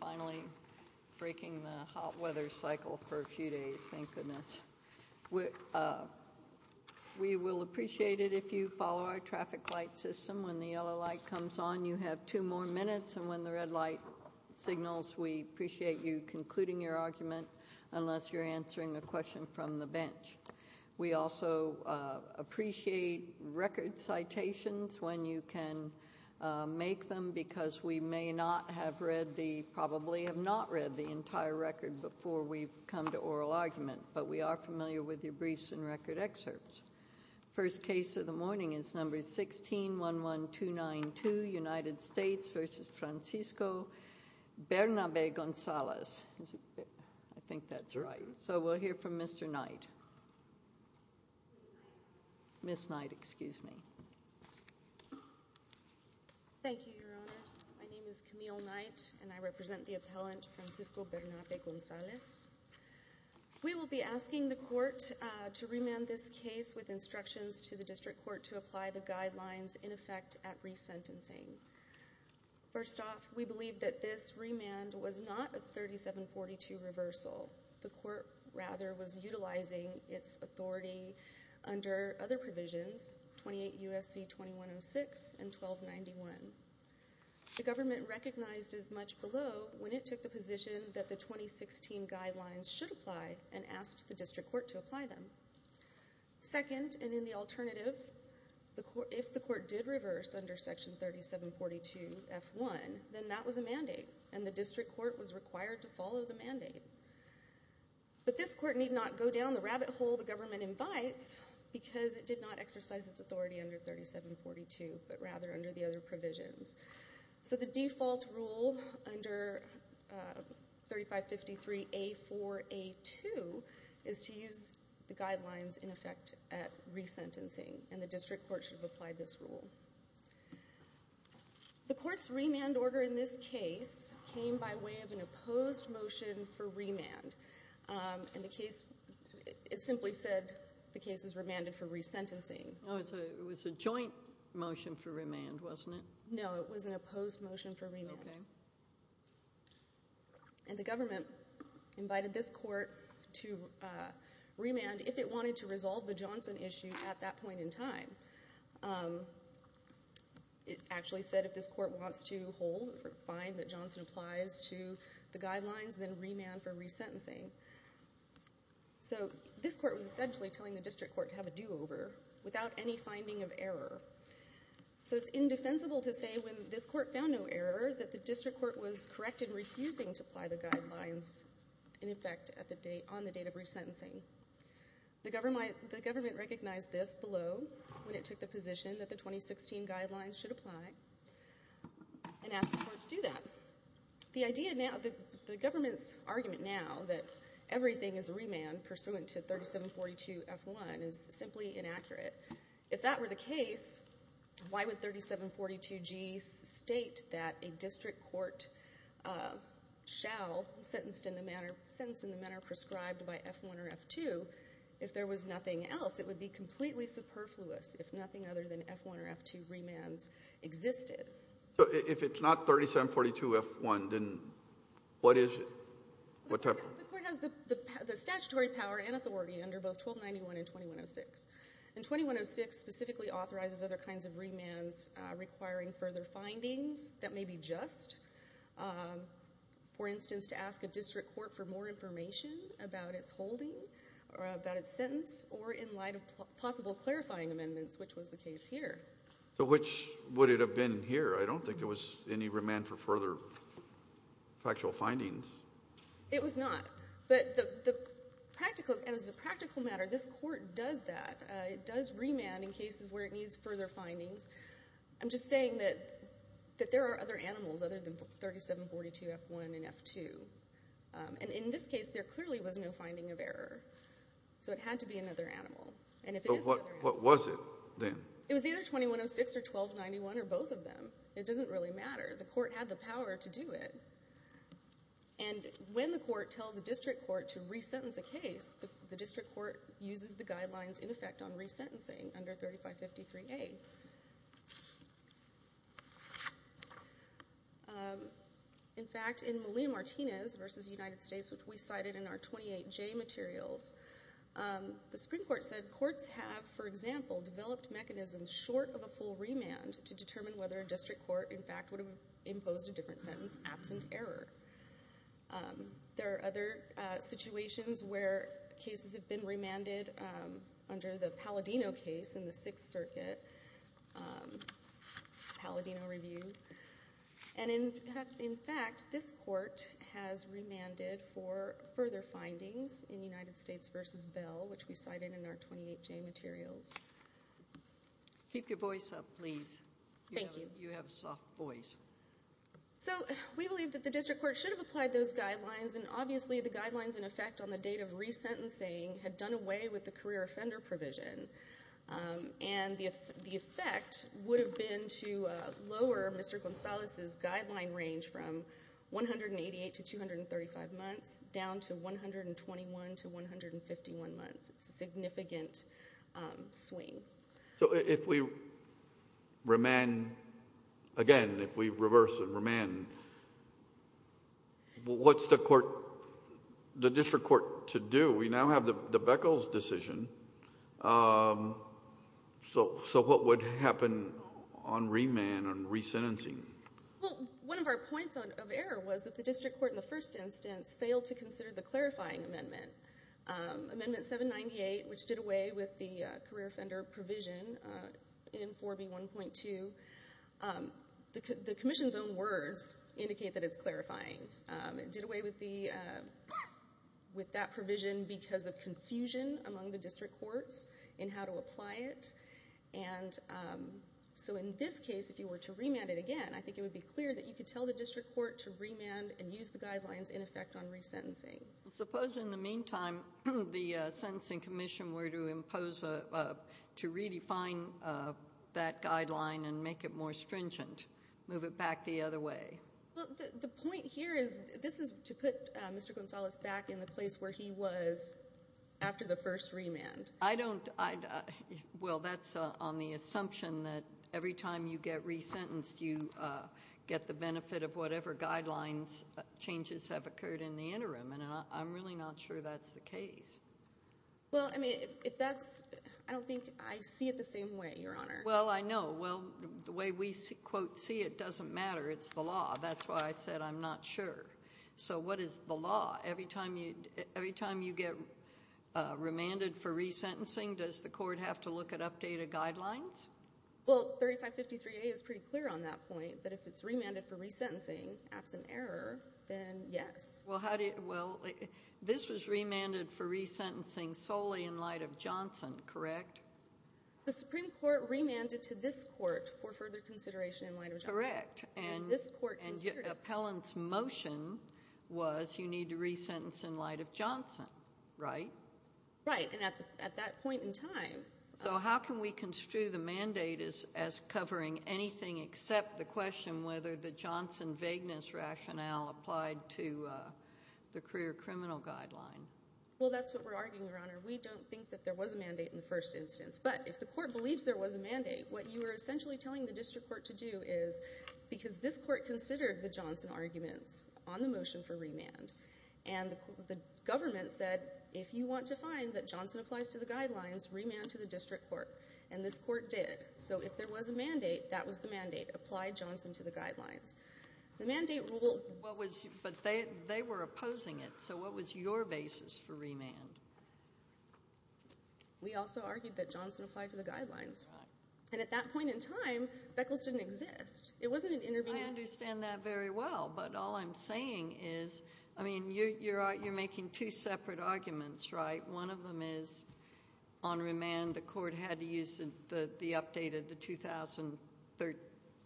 finally breaking the hot weather cycle for a few days thank goodness. We will appreciate it if you follow our traffic light system when the yellow light comes on you have two more minutes and when the red light signals we appreciate you concluding your argument unless you're answering a question from the bench. We also appreciate record citations when you can make them because we may not have read the probably have not read the entire record before we come to oral argument but we are familiar with your briefs and record excerpts. First case of the morning is number 16 11292 United States v. Francisco Bernabe Gonzales. I think and I represent the appellant Francisco Bernabe Gonzales. We will be asking the court to remand this case with instructions to the district court to apply the guidelines in effect at resentencing. First off we believe that this remand was not a 3742 reversal the court rather was utilizing its authority under other provisions 28 USC 2106 and 1291. The government recognized as much below when it took the position that the 2016 guidelines should apply and asked the district court to apply them. Second and in the alternative the court if the court did reverse under section 3742 f1 then that was a mandate and the district court was required to follow the mandate but this court need not go down the government invites because it did not exercise its authority under 3742 but rather under the other provisions. So the default rule under 3553 A4 A2 is to use the guidelines in effect at resentencing and the district court should apply this rule. The court's remand order in this case came by way of an opposed motion for remand and the case it simply said the case is remanded for resentencing. It was a joint motion for remand wasn't it? No it was an opposed motion for remand and the government invited this court to remand if it wanted to resolve the Johnson issue at that point in time. It actually said if this court wants to remand for resentencing. So this court was essentially telling the district court to have a do-over without any finding of error. So it's indefensible to say when this court found no error that the district court was correct in refusing to apply the guidelines in effect at the date on the date of resentencing. The government recognized this below when it took the position that the 2016 guidelines should apply and asked the court to do that. The idea of the argument now that everything is a remand pursuant to 3742 F1 is simply inaccurate. If that were the case, why would 3742 G state that a district court shall sentence in the manner prescribed by F1 or F2 if there was nothing else? It would be completely superfluous if nothing other than F1 or F2 remands existed. So if it's not 3742 F1, then what is it? The court has the statutory power and authority under both 1291 and 2106. And 2106 specifically authorizes other kinds of remands requiring further findings that may be just. For instance, to ask a district court for more information about its holding or about its sentence or in light of possible clarifying amendments, which was the case here. So which would it have been here? I don't think there was any remand for further factual findings. It was not. But the practical, as a practical matter, this court does that. It does remand in cases where it needs further findings. I'm just saying that that there are other animals other than 3742 F1 and F2. And in this case there clearly was no finding of What was it then? It was either 2106 or 1291 or both of them. It doesn't really matter. The court had the power to do it. And when the court tells a district court to re-sentence a case, the district court uses the guidelines in effect on re-sentencing under 3553A. In fact, in Malia Martinez versus United States, which we cited in our 28J materials, the Supreme Court said courts have, for example, developed mechanisms short of a full remand to determine whether a district court, in fact, would have imposed a different sentence absent error. There are other situations where cases have been remanded under the Palladino case in the Sixth Circuit, Palladino Review. And in fact, this court has remanded for further findings in United States versus Bell, which we cited in our 28J materials. Keep your voice up, please. Thank you. You have a soft voice. So we believe that the district court should have applied those guidelines and obviously the guidelines in effect on the date of re-sentencing had done away with the career offender provision. And the effect would have been to lower Mr. Gonzalez's guideline range from 188 to 235 months down to 121 to 151 months. It's a significant swing. So if we remand again, if we reverse and remand, what's the court, the district court to do? We now have the Beckels decision. So what would happen on remand, on re-sentencing? Well, one of our points of error was that the district court in the first instance failed to consider the clarifying amendment. Amendment 798, which did away with the career offender provision in 4B 1.2, the Commission's own words indicate that it's clarifying. It did away with that provision because of confusion among the district courts in how to apply it. And so in this case, if you were to remand it again, I think it would be clear that you could tell the district court to remand and use the guidelines in effect on re-sentencing. Suppose in the meantime the Sentencing Commission were to impose, to redefine that guideline and make it more stringent, move it back the other way. The point here is, this is to put Mr. Gonzalez back in the place where he was after the first remand. I don't, well that's on the assumption that every time you get re-sentenced you get the benefit of whatever guidelines changes have occurred in the interim, and I'm really not sure that's the case. Well, I mean, if that's, I don't think, I see it the same way, Your Honor. Well, I know. Well, the way we, quote, see it doesn't matter. It's the law. That's why I said I'm not sure. So what is the law? Every time you, every time you get remanded for re-sentencing, does the court have to look at updated guidelines? Well, 3553A is pretty clear on that point, that if it's remanded for re-sentencing, absent error, then yes. Well, how do you, well, this was remanded for re-sentencing solely in light of Johnson, correct? The Supreme Court remanded to this court for further consideration in light of Johnson. Correct. And this court considered it. And your appellant's motion was you need to re-sentence in light of Johnson, right? Right, and at that point in time. So how can we construe the mandate as covering anything except the question whether the Johnson vagueness rationale applied to the career criminal guideline? Well, that's what we're arguing, Your Honor. We don't think that there was a mandate in the first instance, but if the court believes there was a mandate, what you were essentially telling the district court to do is, because this court considered the Johnson arguments on the motion for remand, and the government said, if you want to find that Johnson applies to the guidelines, remand to the district court. And this court did. So if there was a mandate, that was the mandate. Apply Johnson to the guidelines. The mandate rule. But they were opposing it, so what was your basis for remand? We also argued that Johnson applied to the guidelines. And at that point in time, Beckles didn't exist. It wasn't an intervening. I understand that very well, but all I'm saying is, I mean, you're making two separate arguments, right? One of them is on remand, the court had to use the updated, the 2003,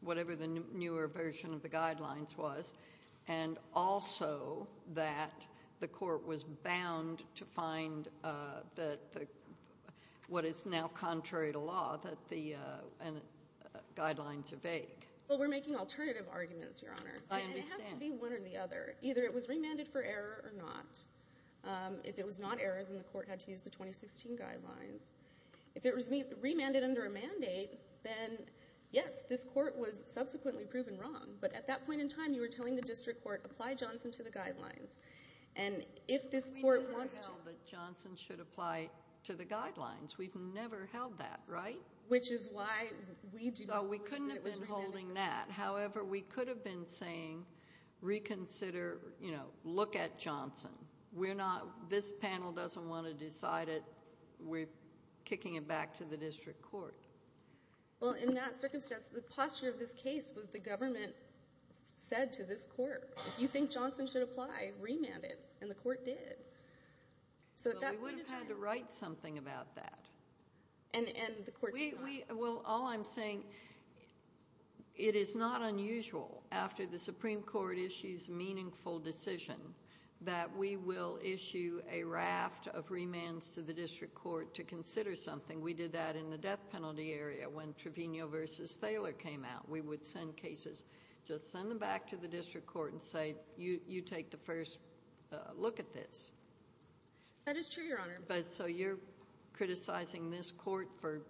whatever the newer version of the guidelines was, and also that the court was bound to find that what is now contrary to law, that the guidelines are vague. Well, we're making alternative arguments, Your Honor. I understand. And it has to be one or the other. Either it was remanded for error or not. If it was not error, then the court had to use the 2016 guidelines. If it was remanded under a mandate, then yes, this court was subsequently proven wrong. But at that point in time, you were telling the court, apply Johnson to the guidelines. And if this court wants to. We never held that Johnson should apply to the guidelines. We've never held that, right? Which is why we do not believe that it was remanded. So we couldn't have been holding that. However, we could have been saying, reconsider, you know, look at Johnson. We're not, this panel doesn't want to decide it. We're kicking it back to the district court. Well, in that circumstance, the posture of this case was the government said to this court, if you think Johnson should apply, remand it. And the court did. So at that point in time. So we would have had to write something about that. And the court did not. Well, all I'm saying, it is not unusual after the Supreme Court issues meaningful decision that we will issue a raft of remands to the district court to consider something. We did that in the 2016 cases. Just send them back to the district court and say, you take the first look at this. That is true, Your Honor. But so you're criticizing this court for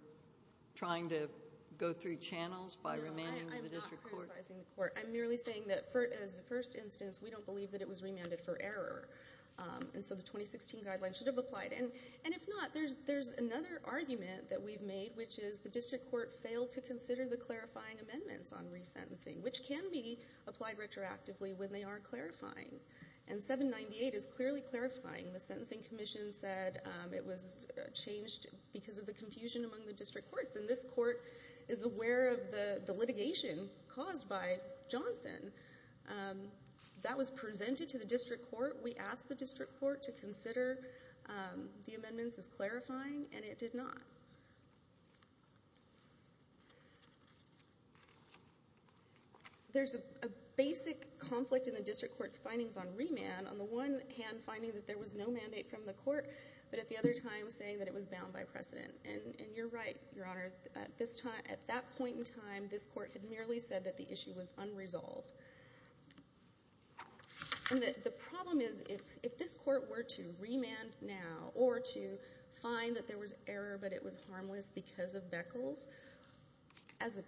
trying to go through channels by remanding the district court? No, I'm not criticizing the court. I'm merely saying that as a first instance, we don't believe that it was remanded for error. And so the 2016 guidelines should have applied. And if not, there's another argument that we've made, which is the can be applied retroactively when they are clarifying. And 798 is clearly clarifying. The Sentencing Commission said it was changed because of the confusion among the district courts. And this court is aware of the litigation caused by Johnson. That was presented to the district court. We asked the district court to consider the amendments as clarifying, and it did not. There's a basic conflict in the district court's findings on remand. On the one hand, finding that there was no mandate from the court, but at the other time saying that it was bound by precedent. And you're right, Your Honor. At this time, at that point in time, this court had merely said that the issue was unresolved. The problem is, if this court were to remand now or to find that there was error, but it was harmless because of Beckles, as a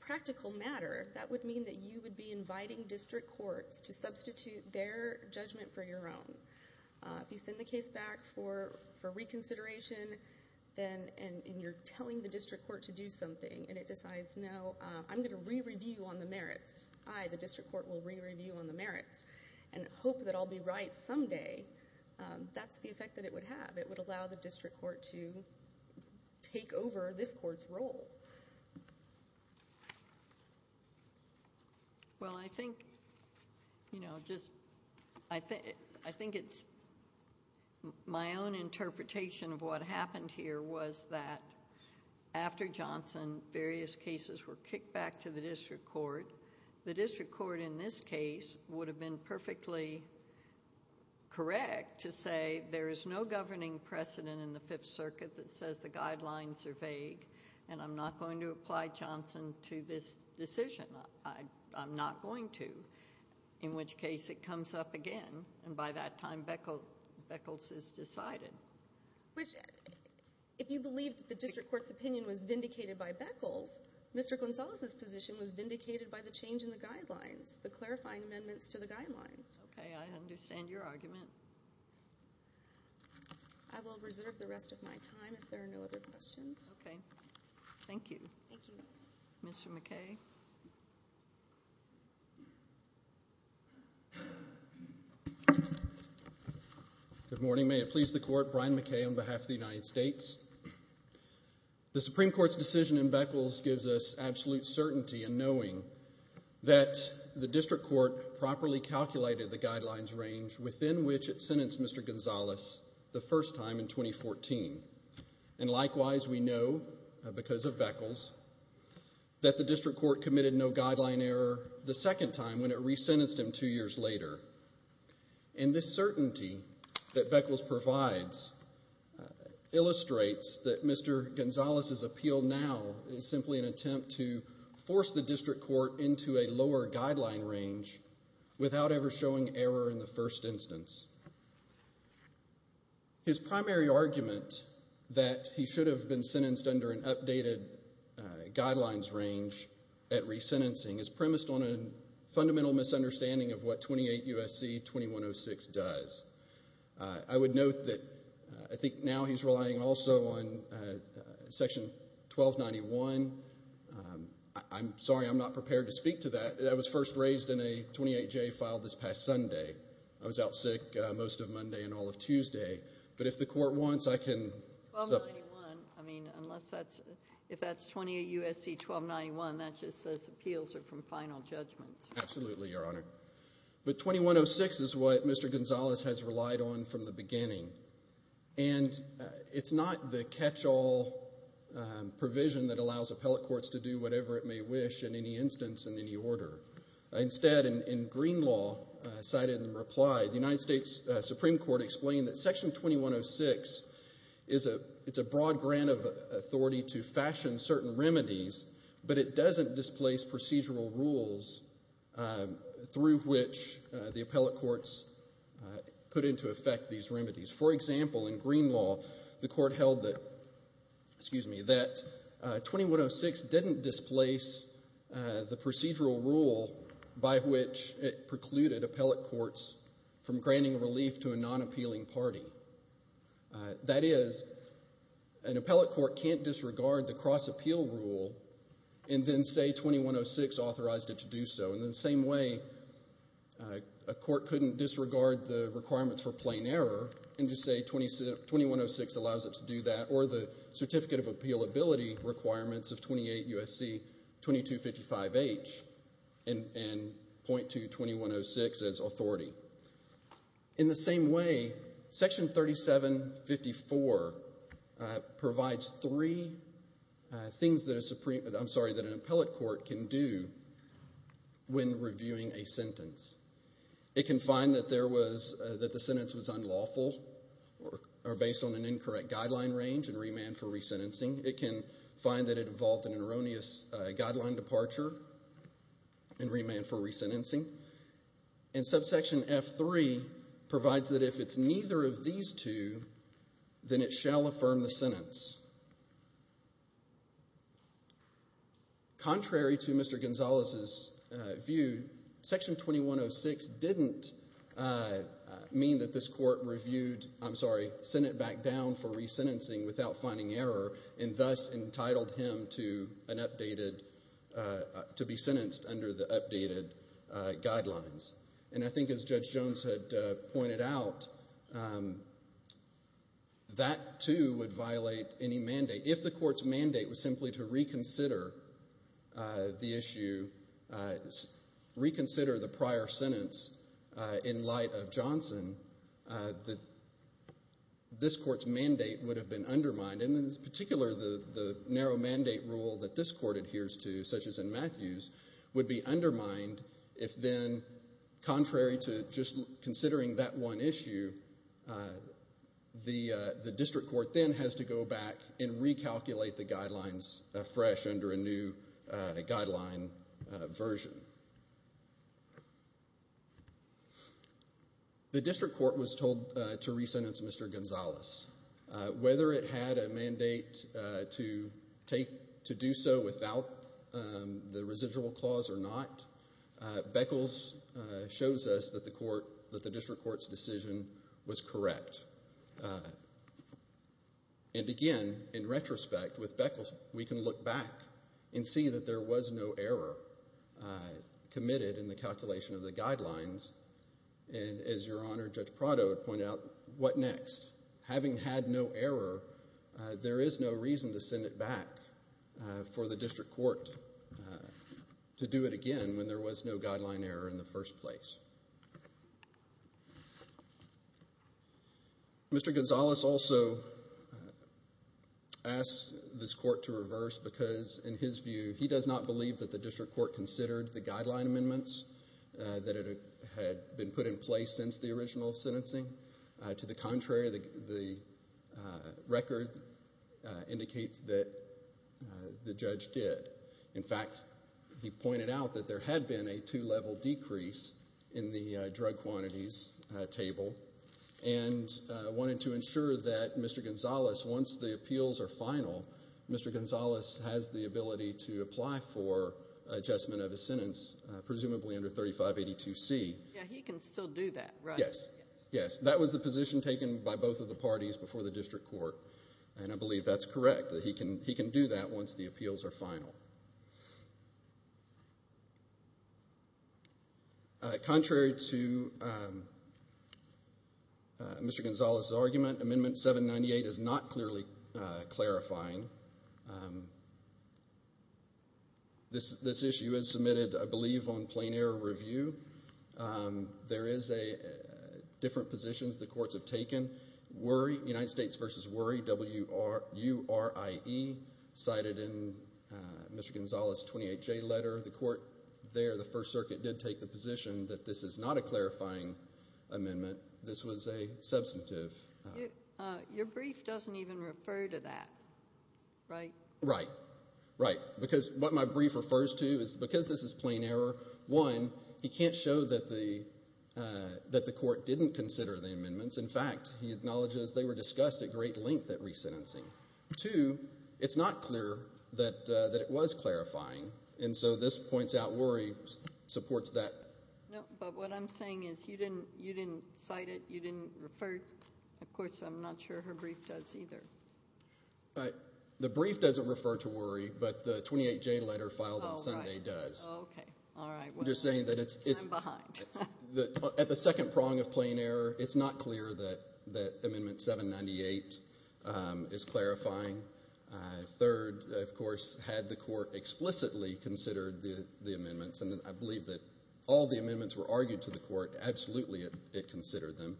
practical matter, that would mean that you would be inviting district courts to substitute their judgment for your own. If you send the case back for reconsideration, and you're telling the district court to do something, and it decides, No, I'm going to re-review on the merits. I, the district court, will re-review on the merits and hope that I'll be right someday. That's the effect that it would have. It would allow the district court to take over this court's role. Well, I think, you know, just, I think it's, my own interpretation of what happened here was that after Johnson, various cases were kicked back to the district court. The district court, in this case, would have been perfectly correct to say, There is no governing precedent in the Fifth Circuit that says the guidelines are vague, and I'm not going to apply Johnson to this decision. I'm not going to. In which case, it comes up again, and by that time, Beckles is decided. Which, if you believe the district court's opinion was vindicated by Beckles, Mr. Gonzalez's position was vindicated by the change in guidelines, the clarifying amendments to the guidelines. Okay, I understand your argument. I will reserve the rest of my time if there are no other questions. Okay. Thank you. Thank you. Mr. McKay. Good morning. May it please the Court, Brian McKay on behalf of the United States. The Supreme Court's decision in Beckles gives us absolute certainty in that the district court properly calculated the guidelines range within which it sentenced Mr. Gonzalez the first time in 2014. And likewise, we know, because of Beckles, that the district court committed no guideline error the second time when it resentenced him two years later. And this certainty that Beckles provides illustrates that Mr. Gonzalez's appeal now is simply an error in the first instance. His primary argument that he should have been sentenced under an updated guidelines range at resentencing is premised on a fundamental misunderstanding of what 28 U.S.C. 2106 does. I would note that I think now he's relying also on Section 1291. I'm sorry, I'm not prepared to I was first raised in a 28-J file this past Sunday. I was out sick most of Monday and all of Tuesday. But if the Court wants, I can... I mean, unless that's, if that's 28 U.S.C. 1291, that just says appeals are from final judgments. Absolutely, Your Honor. But 2106 is what Mr. Gonzalez has relied on from the beginning. And it's not the catch-all provision that allows appellate courts to do whatever it may wish in any instance, in any order. Instead, in Green Law, cited in the reply, the United States Supreme Court explained that Section 2106 is a, it's a broad grant of authority to fashion certain remedies, but it doesn't displace procedural rules through which the appellate courts put into effect these remedies. For example, in Green Law, the Court held that, excuse me, it didn't displace the procedural rule by which it precluded appellate courts from granting relief to a non-appealing party. That is, an appellate court can't disregard the cross-appeal rule and then say 2106 authorized it to do so. In the same way, a court couldn't disregard the requirements for plain error and just say 2106 allows it to do that, or the Certificate of Appealability requirements of 28 U.S.C. 2255H and point to 2106 as authority. In the same way, Section 3754 provides three things that a Supreme, I'm sorry, that an appellate court can do when reviewing a sentence. It can find that there was, that the sentence was unlawful or based on an incorrect guideline range and it can find that it involved an erroneous guideline departure and remand for resentencing. And Subsection F3 provides that if it's neither of these two, then it shall affirm the sentence. Contrary to Mr. Gonzalez's view, Section 2106 didn't mean that this court reviewed, I'm sorry, sent it back down for resentencing without finding error and thus entitled him to an updated, to be sentenced under the updated guidelines. And I think as Judge Jones had pointed out, that too would violate any mandate. If the court's mandate was simply to reconsider the issue, reconsider the prior sentence in light of Johnson, this court's mandate would have been undermined. And in particular, the narrow mandate rule that this court adheres to, such as in Matthews, would be undermined if then, contrary to just considering that one issue, the district court then has to go back and recalculate the guidelines fresh under a new guideline version. The district court was told to resentence Mr. Gonzalez. Whether it had a mandate to take, to do so without the residual clause or not, Beckles shows us that the court, that the district court's decision was correct. And again, in committed in the calculation of the guidelines. And as Your Honor, Judge Prado pointed out, what next? Having had no error, there is no reason to send it back for the district court to do it again when there was no guideline error in the first place. Mr. Gonzalez also asked this court to reverse because, in his view, he does not believe that the district court considered the guideline amendments that had been put in place since the original sentencing. To the contrary, the record indicates that the judge did. In fact, he pointed out that there had been a two-level decrease in the drug quantities table and wanted to ensure that Mr. Gonzalez, once the appeals are final, Mr. Gonzalez has the ability to apply for adjustment of his sentence, presumably under 3582C. He can still do that, right? Yes. That was the position taken by both of the parties before the district court. And I believe that's correct, that he can do that once the appeals are final. Contrary to Mr. Gonzalez's argument, Amendment 798 is not clearly clarifying. This issue is submitted, I believe, on plain error review. There is different positions the courts have taken. United States v. WURIE, cited in Mr. Gonzalez's 28J letter, the court there, the First Circuit, did take the position that this is not a clarifying amendment. This was a clarifying amendment. Your brief doesn't even refer to that, right? Right. Right. Because what my brief refers to is because this is plain error, one, he can't show that the court didn't consider the amendments. In fact, he acknowledges they were discussed at great length at resentencing. Two, it's not clear that it was clarifying, and so this points out WURIE supports that. No, but what I'm saying is you didn't cite it, you didn't refer, of course, to WURIE. I'm not sure her brief does either. The brief doesn't refer to WURIE, but the 28J letter filed on Sunday does. Okay. All right. I'm behind. At the second prong of plain error, it's not clear that Amendment 798 is clarifying. Third, of course, had the court explicitly considered the amendments, and I believe that all the amendments were argued to the court, absolutely it considered them,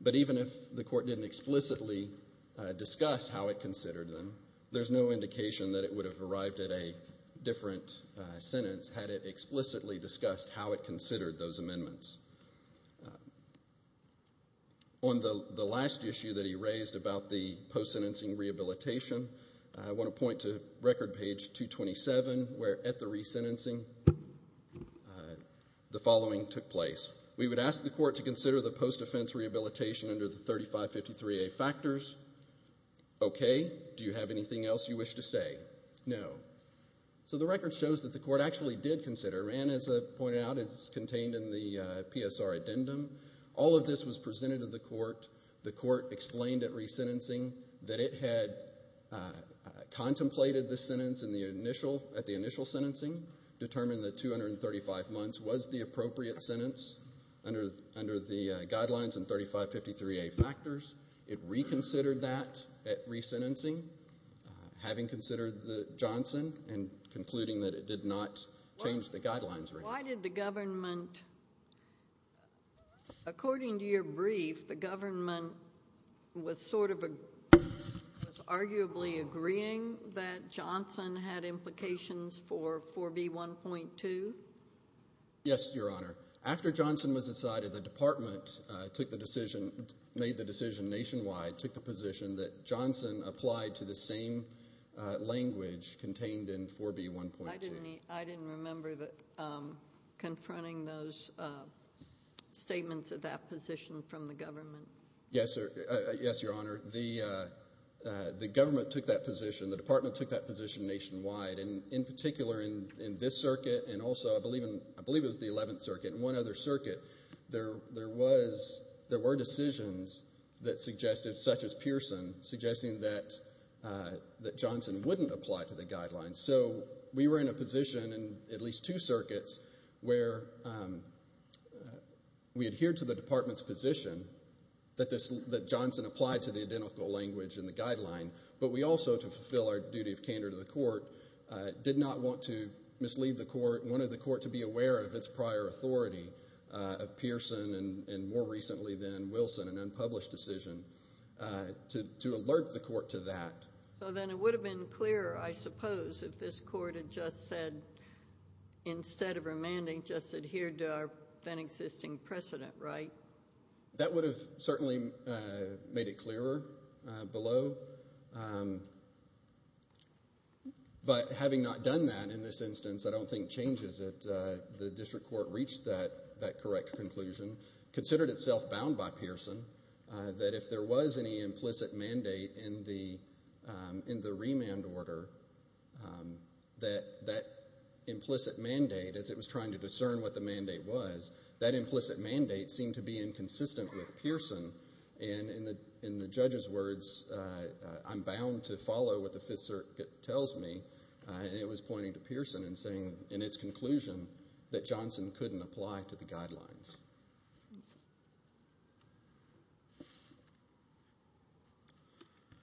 but even if the court didn't explicitly discuss how it considered them, there's no indication that it would have arrived at a different sentence had it explicitly discussed how it considered those amendments. On the last issue that he raised about the post-sentencing rehabilitation, I want to point to record page 227, where at the resentencing, the following took place. We would ask the court to consider the post-offense rehabilitation under the 3553A factors. Okay. Do you have anything else you wish to say? No. So the record shows that the court actually did consider, and as I pointed out, it's contained in the PSR addendum. All of this was presented to the court. The court explained at resentencing that it had contemplated the sentence at the initial sentencing, determined that it was the appropriate sentence under the guidelines and 3553A factors. It reconsidered that at resentencing, having considered the Johnson and concluding that it did not change the guidelines. Why did the government, according to your brief, the government was sort of, was arguably agreeing that Johnson had been changed? Yes, Your Honor. After Johnson was decided, the department took the decision, made the decision nationwide, took the position that Johnson applied to the same language contained in 4B1.2. I didn't remember confronting those statements of that position from the government. Yes, Your Honor. The government took that position. The department took that position nationwide. In particular, in this circuit and also, I believe it was the 11th circuit and one other circuit, there were decisions that suggested, such as Pearson, suggesting that Johnson wouldn't apply to the guidelines. So we were in a position in at least two circuits where we adhered to the department's position that Johnson applied to the identical language in the guidelines. We did not want to mislead the court. We wanted the court to be aware of its prior authority of Pearson and more recently than Wilson, an unpublished decision, to alert the court to that. So then it would have been clearer, I suppose, if this court had just said, instead of remanding, just adhered to our then existing precedent, right? That would have certainly made it clearer below, but having not done that in this instance, I don't think changes it. The district court reached that correct conclusion, considered itself bound by Pearson, that if there was any implicit mandate in the remand order, that implicit mandate, as it was trying to discern what the mandate was, that implicit mandate seemed to be inconsistent with Pearson. And in the was pointing to Pearson and saying, in its conclusion, that Johnson couldn't apply to the guidelines.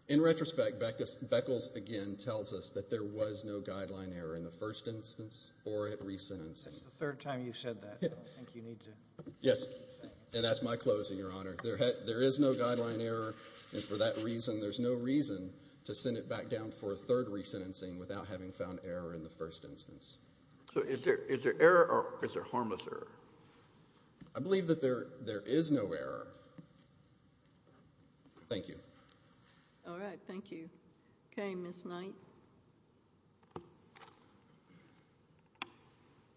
In retrospect, Beckles again tells us that there was no guideline error in the first instance or at re-sentencing. That's the third time you've said that. Yes, and that's my closing, Your Honor. There is no guideline error, and for that reason, there's no reason to in the first instance. So is there error, or is there harmless error? I believe that there is no error. Thank you. All right, thank you. Okay, Ms. Knight.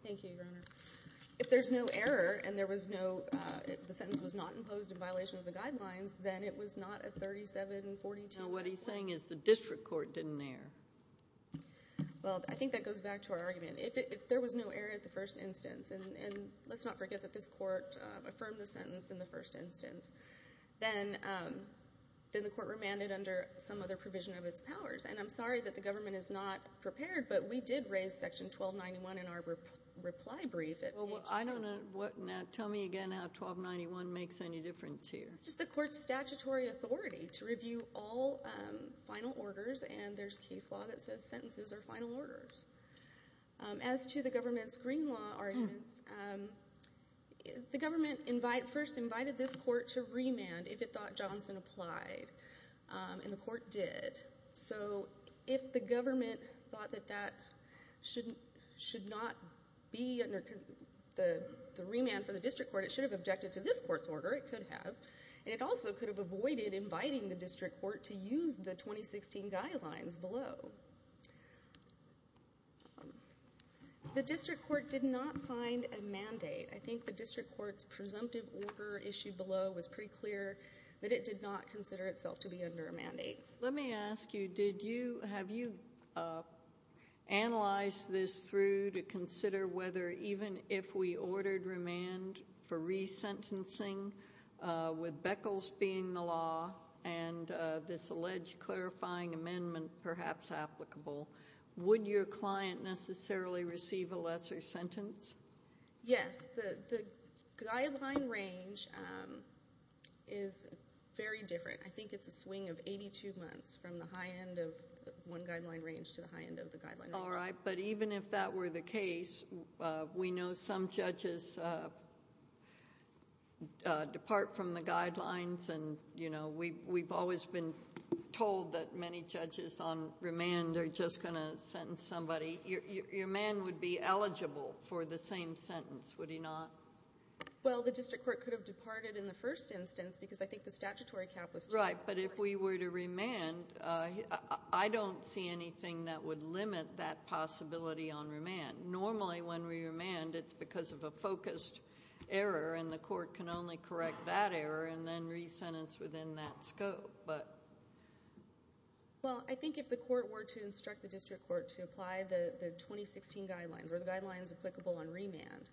Thank you, Your Honor. If there's no error, and there was no, the sentence was not imposed in violation of the guidelines, then it was not a 3742. No, what he's saying is the district court didn't err. Well, I think that goes back to our argument. If there was no error at the first instance, and let's not forget that this court affirmed the sentence in the first instance, then the court remanded under some other provision of its powers. And I'm sorry that the government is not prepared, but we did raise Section 1291 in our reply brief at Page 2. Well, I don't know what, now tell me again how 1291 makes any difference here. It's just the court's statutory authority to review all final orders, and there's case law that says sentences are final orders. As to the government's green law arguments, the government first invited this court to remand if it thought Johnson applied, and the court did. So if the government thought that that should not be the remand for the district court, it should have objected to this court's order, it could have, and it also could have avoided inviting the district court to use the 2016 guidelines below. The district court did not find a mandate. I think the district court's presumptive order issue below was pretty clear that it did not consider itself to be under a mandate. Let me ask you, have you analyzed this through to consider whether even if we ordered remand for resentencing with Beckles being the law and this alleged clarifying amendment perhaps applicable, would your client necessarily receive a lesser sentence? Yes, the guideline range is very different. I think it's a swing of 82 months from the high end of one guideline range to the high end of the guideline range. All right, but even if that were the case, we know some judges depart from the guidelines, and we've always been told that many judges on remand are just going to sentence somebody. Your man would be eligible for the same sentence, would he not? Well, the district court could have departed in the first instance because I think the statutory cap was too high. Right, but if we were to remand, I don't see anything that would happen. It's because of a focused error, and the court can only correct that error and then resentence within that scope. Well, I think if the court were to instruct the district court to apply the 2016 guidelines or the guidelines applicable on remand,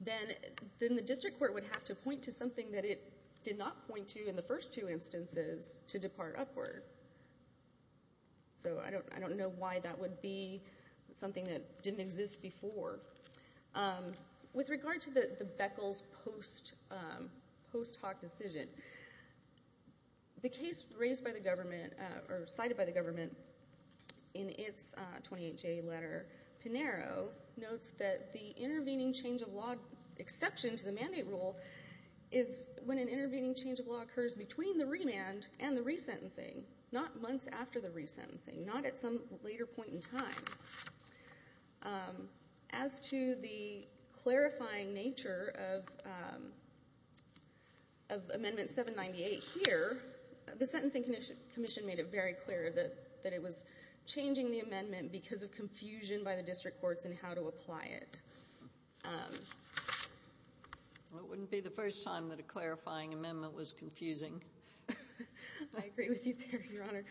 then the district court would have to point to something that it did not point to in the first two instances to depart upward. So I don't know why that would be something that didn't exist before. With regard to the Beckles post hoc decision, the case raised by the government or cited by the government in its 28-J letter, Pinero notes that the intervening change of law exception to the mandate rule is when an intervening change of law occurs between the remand and the resentencing, not months after the resentencing, not at some later point in time. As to the clarifying nature of Amendment 798 here, the Sentencing Commission made it very clear that it was changing the amendment because of confusion by the district courts in how to apply it. It wouldn't be the first time that a clarifying amendment was confusing. I agree with you there, Your Honor.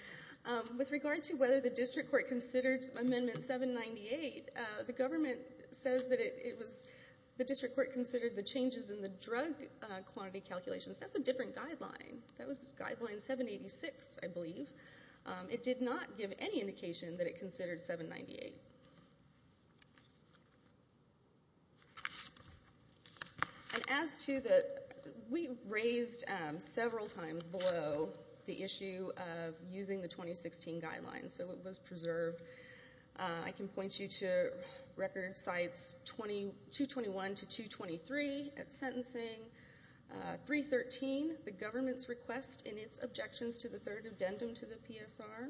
With regard to whether the district court considered Amendment 798, the government says that it was the district court considered the changes in the drug quantity calculations. That's a different guideline. That was Guideline 786, I believe. It did not give any It was raised several times below the issue of using the 2016 guidelines, so it was preserved. I can point you to record sites 221 to 223 at sentencing, 313, the government's request in its objections to the third addendum to the PSR,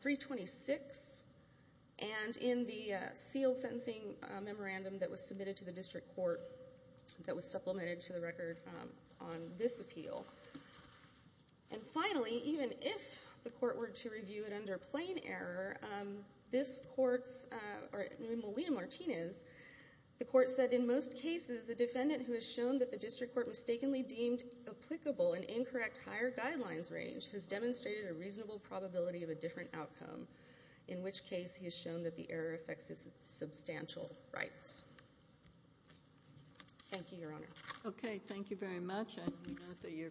326, and in the sealed sentencing memorandum that was submitted to the district court that was supplemented to the record on this appeal. And finally, even if the court were to review it under plain error, this court's, or Molina-Martinez, the court said in most cases a defendant who has shown that the district court mistakenly deemed applicable an incorrect higher guidelines range has demonstrated a reasonable probability of a different outcome, in which case he has that the error affects his substantial rights. Thank you, Your Honor. Okay, thank you very much. I do note that you're court-appointed.